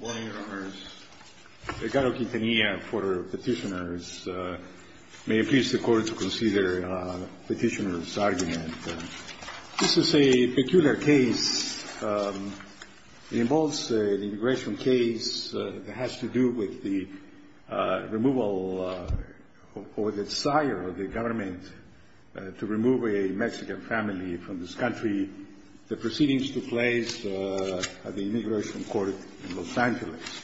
Good morning, Your Honors. Ricardo Quintanilla for Petitioners. May it please the Court to consider the petitioner's argument. This is a peculiar case. It involves an immigration case that has to do with the removal or the desire of the government to remove a Mexican family from this country. The proceedings took place at the immigration court in Los Angeles.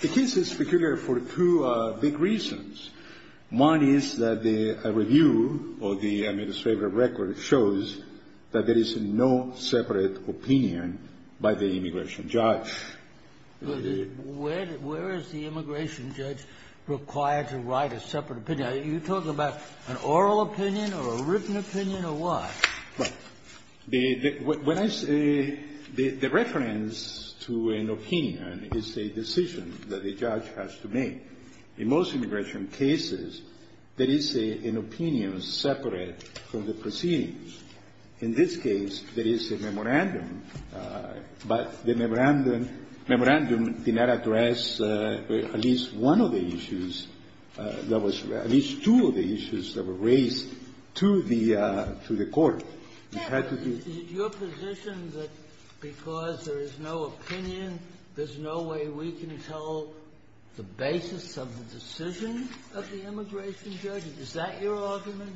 The case is peculiar for two big reasons. One is that the review of the administrative record shows that there is no separate opinion by the immigration judge. Where is the immigration judge required to write a separate opinion? Are you talking about an oral opinion or a written opinion, or what? Well, when I say the reference to an opinion is a decision that the judge has to make. In most immigration cases, there is an opinion separate from the proceedings. In this case, there is a memorandum. But the memorandum did not address at least one of the issues that was raised, at least two of the issues that were raised to the court. It had to be ---- Your position that because there is no opinion, there's no way we can tell the basis of the decision of the immigration judge, is that your argument?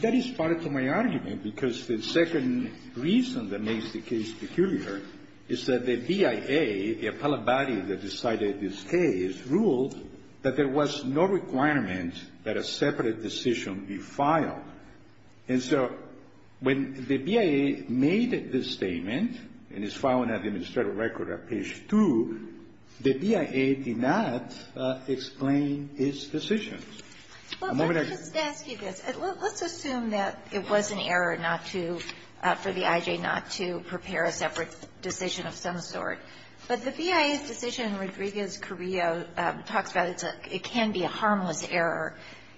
That is part of my argument, because the second reason that makes the case peculiar is that the BIA, the appellate body that decided this case, ruled that there was no requirement that a separate decision be filed. And so when the BIA made this statement, and it's filed in the administrative record at page 2, the BIA did not explain its decision. Well, let me just ask you this. Let's assume that it was an error not to ---- for the IJ not to prepare a separate decision of some sort. But the BIA's decision in Rodriguez-Correa talks about it's a ---- it can be a harmless error.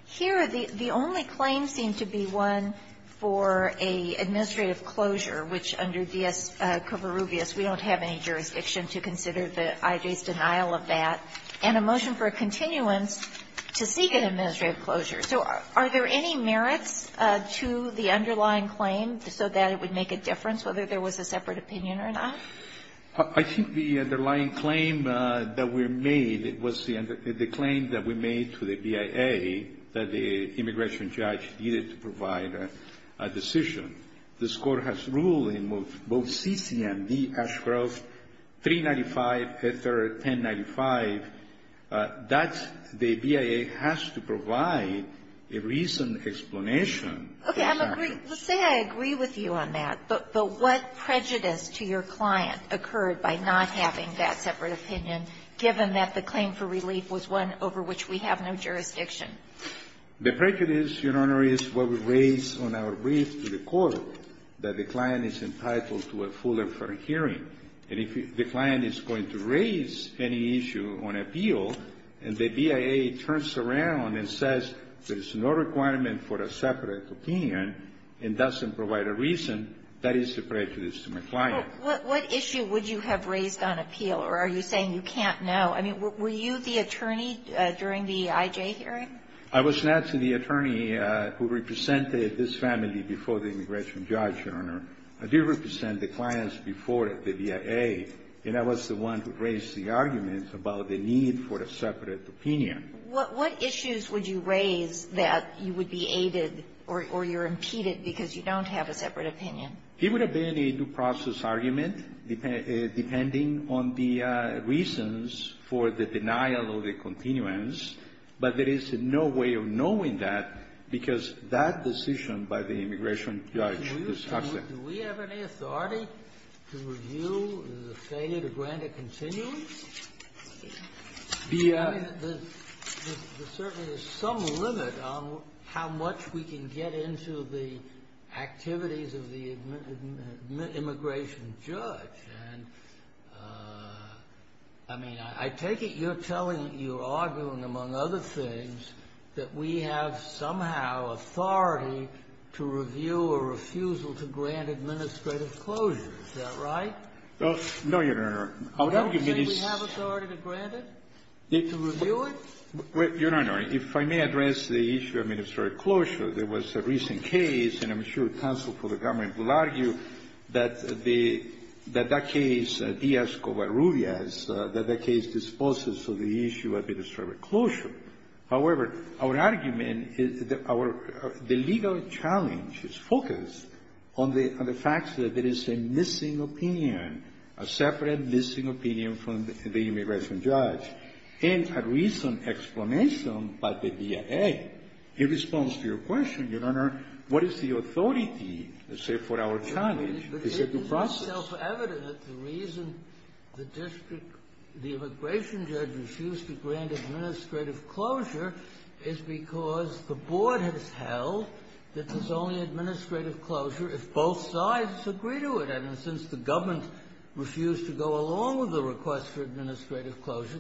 Here, the only claim seemed to be one for an administrative closure, which under D.S. Covarrubias, we don't have any jurisdiction to consider the IJ's denial of that. And a motion for a continuance to seek an administrative closure. So are there any merits to the underlying claim so that it would make a difference whether there was a separate opinion or not? I think the underlying claim that we made was the claim that we made to the BIA that the immigration judge needed to provide a decision. This Court has ruled in both C.C. and D. Ashcroft, 395, 1095, that the BIA has to provide a reasoned explanation. Okay. Let's say I agree with you on that. But what prejudice to your client occurred by not having that separate opinion, given that the claim for relief was one over which we have no jurisdiction? The prejudice, Your Honor, is what we raised on our brief to the Court, that the client is entitled to a full and fair hearing. And if the client is going to raise any issue on appeal, and the BIA turns around and says there's no requirement for a separate opinion and doesn't provide a reason, that is a prejudice to my client. Well, what issue would you have raised on appeal, or are you saying you can't know? I mean, were you the attorney during the IJ hearing? I was not the attorney who represented this family before the immigration judge, Your Honor. I did represent the clients before the BIA, and I was the one who raised the argument about the need for a separate opinion. What issues would you raise that you would be aided or you're impeded because you don't have a separate opinion? It would have been a due process argument, depending on the reasons for the denial of the continuance, but there is no way of knowing that because that decision by the immigration judge is absent. Do we have any authority to review the failure to grant a continuance? BIA. I mean, there's certainly some limit on how much we can get into the activities of the immigration judge. And, I mean, I take it you're telling me, you're arguing, among other things, that we have somehow authority to review a refusal to grant administrative closure. Is that right? No, Your Honor. I would argue that it's — Don't you think we have authority to grant it, to review it? Your Honor, if I may address the issue of administrative closure, there was a recent case, and I'm sure counsel for the government will argue that the — that that case, Diaz-Cobarrubias, that that case disposes of the issue of administrative closure. However, our argument is that our — the legal challenge is focused on the fact that there is a missing opinion, a separate missing opinion from the immigration judge. And a recent explanation by the BIA in response to your question, Your Honor, what is the authority, let's say, for our challenge? Is it the process? It's self-evident that the reason the district — the immigration judge refused to grant administrative closure is because the board has held that there's only administrative closure if both sides agree to it. And since the government refused to go along with the request for administrative closure,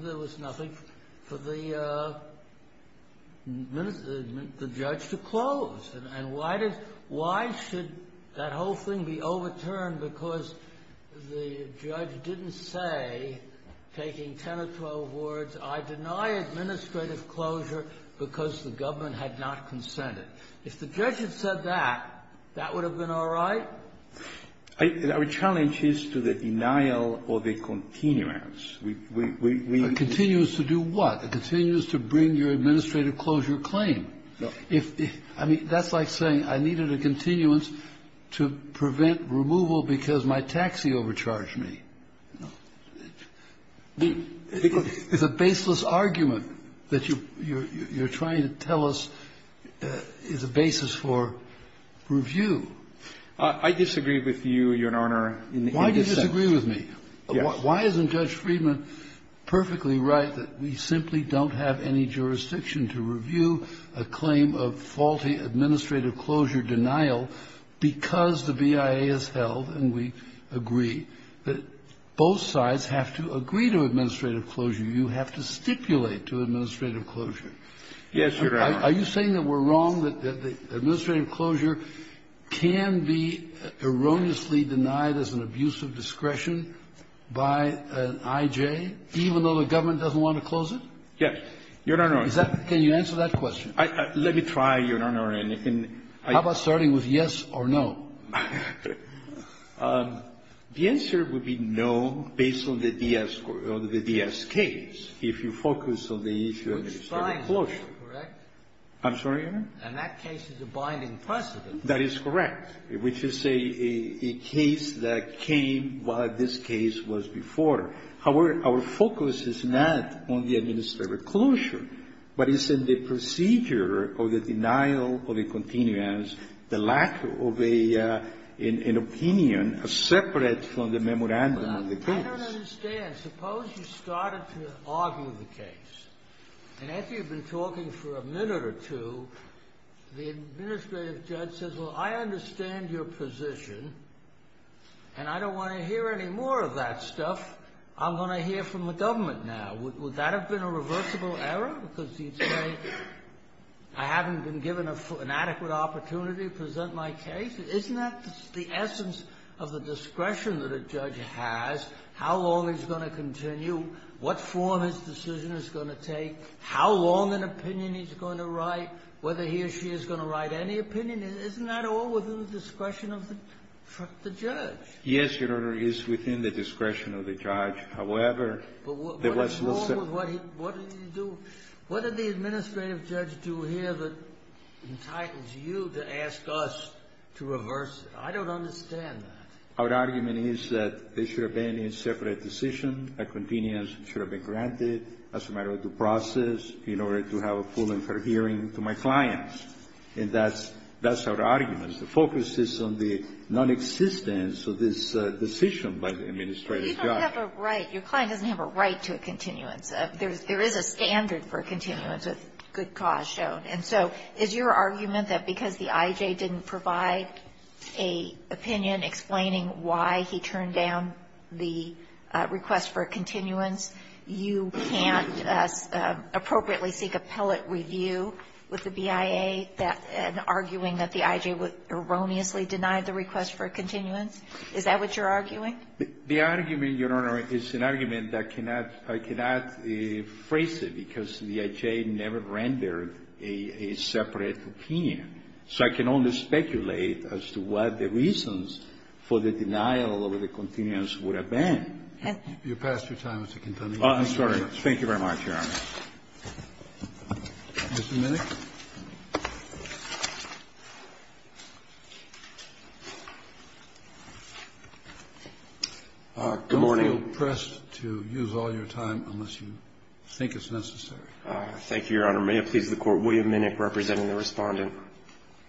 why does — why should that whole thing be overturned because the judge didn't say, taking 10 or 12 words, I deny administrative closure because the government had not consented? If the judge had said that, that would have been all right? Our challenge is to the denial of the continuance. We — we — we — Continuous to do what? Continuous to bring your administrative closure claim. I mean, that's like saying I needed a continuance to prevent removal because my taxi overcharged me. It's a baseless argument that you're trying to tell us is a basis for review. I disagree with you, Your Honor, in this sense. Why do you disagree with me? Why isn't Judge Friedman perfectly right that we simply don't have any jurisdiction to review a claim of faulty administrative closure denial because the BIA has held and we agree that both sides have to agree to administrative closure? You have to stipulate to administrative closure. Yes, Your Honor. Are you saying that we're wrong, that the administrative closure can be erroneously denied as an abuse of discretion by an I.J., even though the government doesn't want to close it? Yes, Your Honor. Is that — can you answer that question? Let me try, Your Honor. How about starting with yes or no? The answer would be no based on the D.S. case, if you focus on the issue of administrative closure. Which side is more correct? I'm sorry, Your Honor? And that case is a binding precedent. That is correct, which is a case that came while this case was before. However, our focus is not on the administrative closure, but it's in the procedure of the denial of a continuance, the lack of an opinion separate from the memorandum of the case. I don't understand. Suppose you started to argue the case, and after you've been talking for a minute or two, the administrative judge says, well, I understand your position, and I don't want to hear any more of that stuff. I'm going to hear from the government now. Would that have been a reversible error, because he'd say, I haven't been given an adequate opportunity to present my case? Isn't that the essence of the discretion that a judge has, how long he's going to continue, what form his decision is going to take, how long an opinion he's going to write, whether he or she is going to write any opinion? Isn't that all within the discretion of the judge? Yes, Your Honor. It is within the discretion of the judge. However, there was no separate ---- But what's wrong with what he do? What did the administrative judge do here that entitles you to ask us to reverse it? I don't understand that. Our argument is that there should have been a separate decision. A continuance should have been granted as a matter of due process in order to have a full and fair hearing to my clients. And that's our argument. The focus is on the nonexistence of this decision by the administrative judge. But you don't have a right. Your client doesn't have a right to a continuance. There is a standard for a continuance with good cause shown. And so is your argument that because the I.J. didn't provide a opinion explaining why he turned down the request for a continuance, you can't appropriately seek appellate review with the BIA and arguing that the I.J. erroneously denied the request for a continuance? Is that what you're arguing? The argument, Your Honor, is an argument that I cannot phrase it because the I.J. never rendered a separate opinion. So I can only speculate as to what the reasons for the denial of the continuance would have been. You passed your time, Mr. Quintanilla. I'm sorry. Thank you very much, Your Honor. Mr. Minnick. Good morning. Don't feel pressed to use all your time unless you think it's necessary. Thank you, Your Honor. May it please the Court, William Minnick representing the Respondent.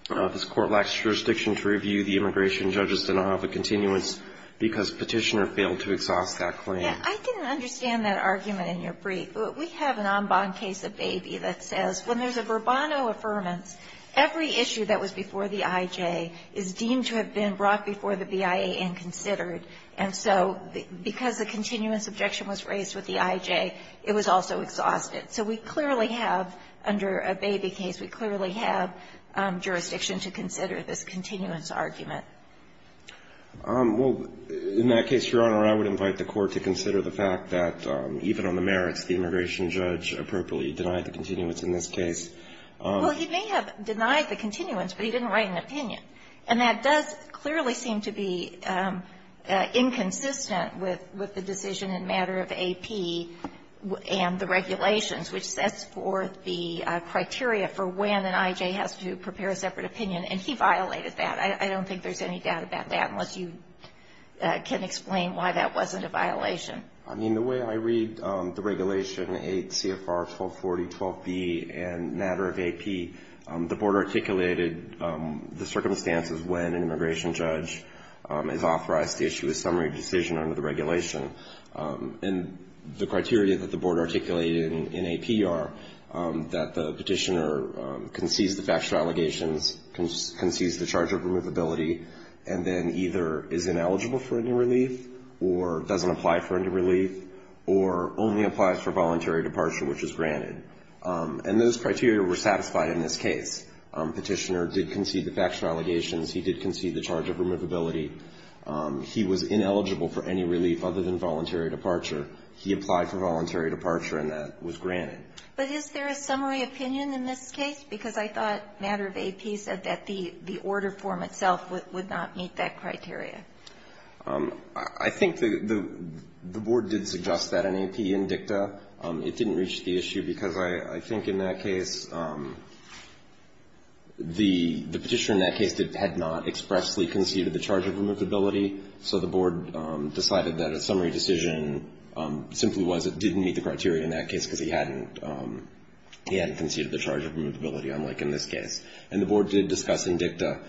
This Court lacks jurisdiction to review the immigration judge's denial of a continuance because Petitioner failed to exhaust that claim. I didn't understand that argument in your brief. We have an en banc case of Baby that says when there's a verbatim affirmance, every issue that was before the I.J. is deemed to have been brought before the BIA and considered. And so because the continuance objection was raised with the I.J., it was also exhausted. So we clearly have, under a Baby case, we clearly have jurisdiction to consider this continuance argument. Well, in that case, Your Honor, I would invite the Court to consider the fact that even on the merits, the immigration judge appropriately denied the continuance in this case. Well, he may have denied the continuance, but he didn't write an opinion. And that does clearly seem to be inconsistent with the decision in matter of AP and the regulations, which sets forth the criteria for when an I.J. has to prepare a separate opinion. And he violated that. I don't think there's any doubt about that unless you can explain why that wasn't a violation. I mean, the way I read the regulation, 8 CFR 1240-12B in matter of AP, the Board articulated the circumstances when an immigration judge is authorized to issue a summary decision under the regulation. And the criteria that the Board articulated in AP are that the petitioner concedes the factual allegations, concedes the charge of removability, and then either is granted relief or only applies for voluntary departure, which is granted. And those criteria were satisfied in this case. Petitioner did concede the factual allegations. He did concede the charge of removability. He was ineligible for any relief other than voluntary departure. He applied for voluntary departure, and that was granted. But is there a summary opinion in this case? Because I thought matter of AP said that the order form itself would not meet that criteria. I think the Board did suggest that in AP and DICTA. It didn't reach the issue because I think in that case, the petitioner in that case had not expressly conceded the charge of removability, so the Board decided that a summary decision simply was it didn't meet the criteria in that case because he hadn't conceded the charge of removability, unlike in this case. And the Board did discuss in DICTA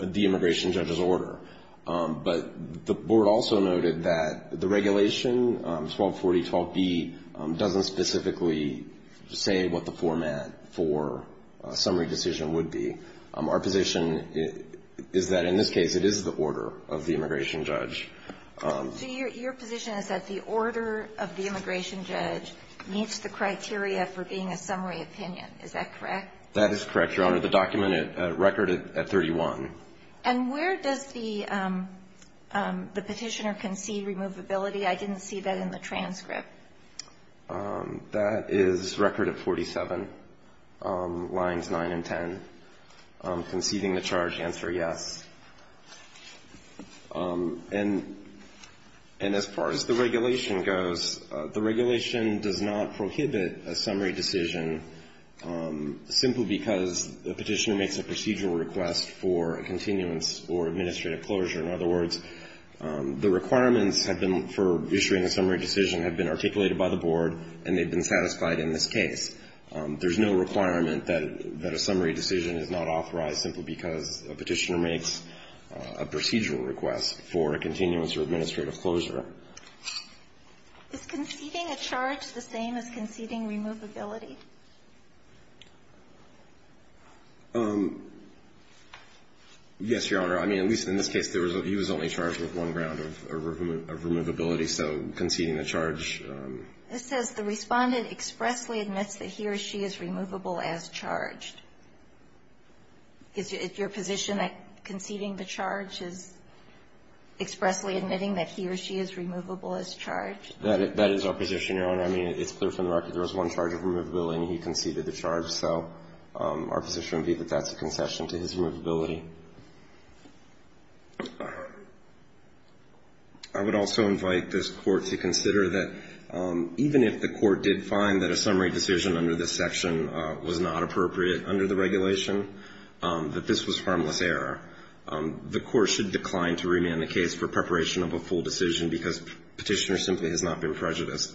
the immigration judge's order. But the Board also noted that the regulation, 1240.12b, doesn't specifically say what the format for a summary decision would be. Our position is that in this case, it is the order of the immigration judge. So your position is that the order of the immigration judge meets the criteria for being a summary opinion. Is that correct? That is correct, Your Honor. The document at record at 31. And where does the petitioner concede removability? I didn't see that in the transcript. That is record at 47, lines 9 and 10. Conceding the charge, answer yes. And as far as the regulation goes, the regulation does not prohibit a summary decision simply because the petitioner makes a procedural request for a continuance or administrative closure. In other words, the requirements have been for issuing a summary decision have been articulated by the Board, and they've been satisfied in this case. There's no requirement that a summary decision is not authorized simply because a petitioner makes a procedural request for a continuance or administrative closure. Is conceding a charge the same as conceding removability? Yes, Your Honor. I mean, at least in this case, he was only charged with one round of removability, so conceding the charge. This says the Respondent expressly admits that he or she is removable as charged. Is your position that conceding the charge is expressly admitting that he or she is removable as charged? That is our position, Your Honor. I mean, it's clear from the record there was one charge of removability, and he conceded the charge. So our position would be that that's a concession to his removability. I would also invite this Court to consider that even if the Court did find that a summary decision under this section was not appropriate under the regulation, that this was harmless error. The Court should decline to remand the case for preparation of a full decision because Petitioner simply has not been prejudiced.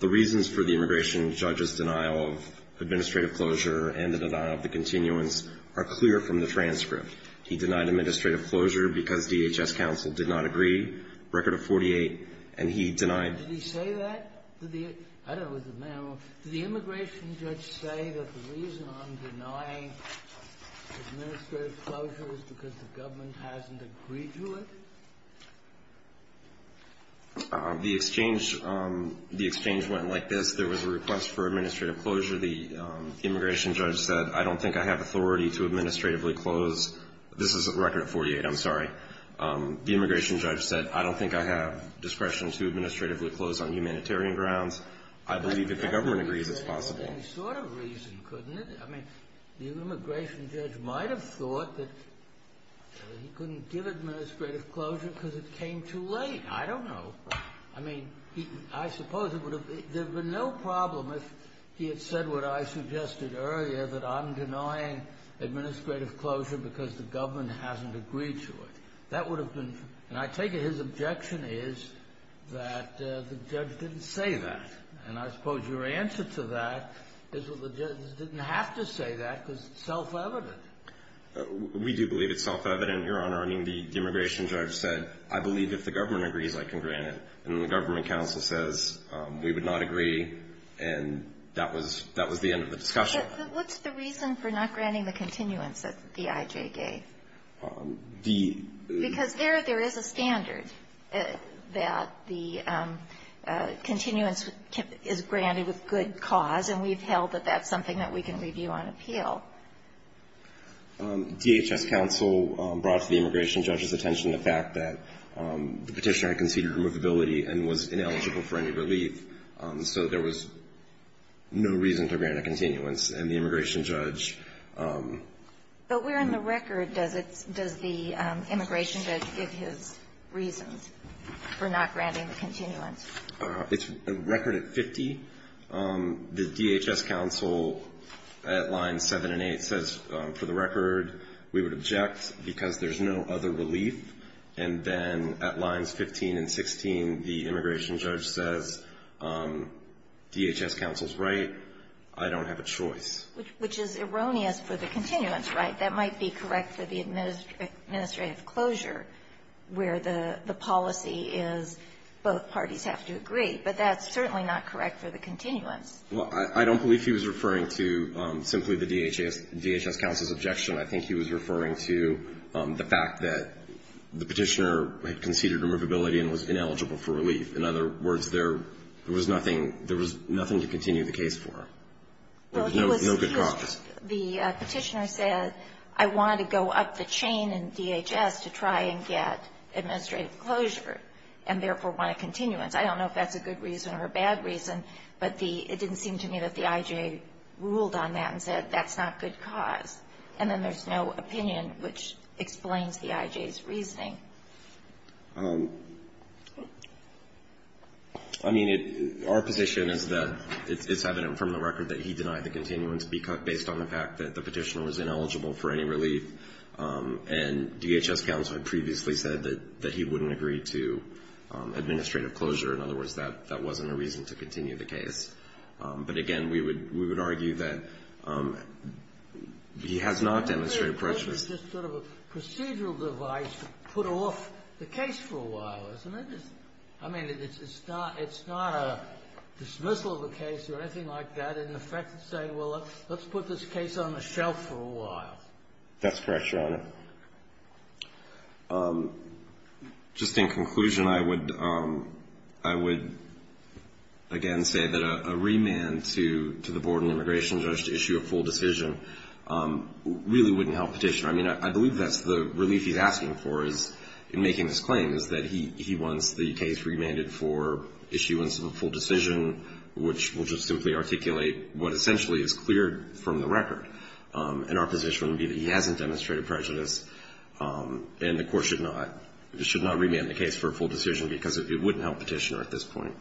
The reasons for the immigration judge's denial of administrative closure and the denial of the continuance are clear from the transcript. He denied administrative closure because DHS counsel did not agree, Record of 48, and he denied. Did he say that? I don't know. Did the immigration judge say that the reason I'm denying administrative closure is because the government hasn't agreed to it? The exchange went like this. There was a request for administrative closure. The immigration judge said, I don't think I have authority to administratively close. This is Record of 48. I'm sorry. The immigration judge said, I don't think I have discretion to administratively close on humanitarian grounds. I believe if the government agrees, it's possible. But that reason had any sort of reason, couldn't it? I mean, the immigration judge might have thought that he couldn't give administrative closure because it came too late. I don't know. I mean, I suppose it would have been no problem if he had said what I suggested earlier, that I'm denying administrative closure because the government hasn't agreed to it. That would have been, and I take it his objection is that the judge didn't say that. And I suppose your answer to that is that the judge didn't have to say that because it's self-evident. We do believe it's self-evident, Your Honor. I mean, the immigration judge said, I believe if the government agrees, I can grant it. And the government counsel says we would not agree, and that was the end of the discussion. But what's the reason for not granting the continuance that the IJ gave? The ---- Because there, there is a standard that the continuance is granted with good cause, and we've held that that's something that we can review on appeal. DHS counsel brought to the immigration judge's attention the fact that the Petitioner had conceded removability and was ineligible for any relief. So there was no reason to grant a continuance, and the immigration judge ---- But where in the record does it ---- does the immigration judge give his reasons for not granting the continuance? It's a record at 50. The DHS counsel at lines 7 and 8 says, for the record, we would object because there's no other relief. And then at lines 15 and 16, the immigration judge says, DHS counsel's right. I don't have a choice. Which is erroneous for the continuance, right? That might be correct for the administrative closure where the policy is both parties have to agree. But that's certainly not correct for the continuance. Well, I don't believe he was referring to simply the DHS counsel's objection. I think he was referring to the fact that the Petitioner had conceded removability and was ineligible for relief. In other words, there was nothing to continue the case for. There was no good cause. The Petitioner said, I wanted to go up the chain in DHS to try and get administrative closure, and therefore want a continuance. I don't know if that's a good reason or a bad reason, but it didn't seem to me that the I.J. ruled on that and said that's not good cause. And then there's no opinion which explains the I.J.'s reasoning. I mean, our position is that it's evident from the record that he denied the continuance based on the fact that the Petitioner was ineligible for any relief, and DHS counsel had previously said that he wouldn't agree to administrative closure. In other words, that wasn't a reason to continue the case. But again, we would argue that he has not demonstrated prejudice. This sort of a procedural device to put off the case for a while, isn't it? I mean, it's not a dismissal of a case or anything like that. In effect, it's saying, well, let's put this case on the shelf for a while. That's correct, Your Honor. Just in conclusion, I would, again, say that a remand to the Board of Immigration Judge to issue a full decision really wouldn't help Petitioner. I mean, I believe that's the relief he's asking for in making this claim, is that he wants the case remanded for issuance of a full decision, which will just simply articulate what essentially is cleared from the record. And our position would be that he hasn't demonstrated prejudice, and the Court should not remand the case for a full decision because it wouldn't help Petitioner at this point.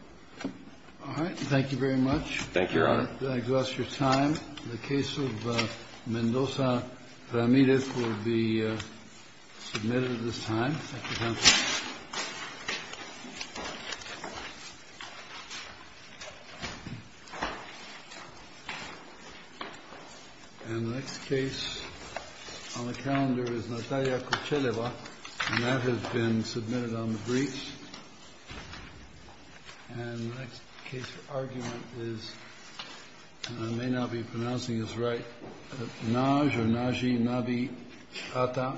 All right. Thank you very much. Thank you, Your Honor. That exhausts your time. The case of Mendoza-Ramirez will be submitted at this time, Mr. Counsel. And the next case on the calendar is Natalia Kocheleva, and that has been submitted on the briefs. And the next case for argument is, and I may not be pronouncing this right, Naj or Naji, Nabi Atta v. Mukasey.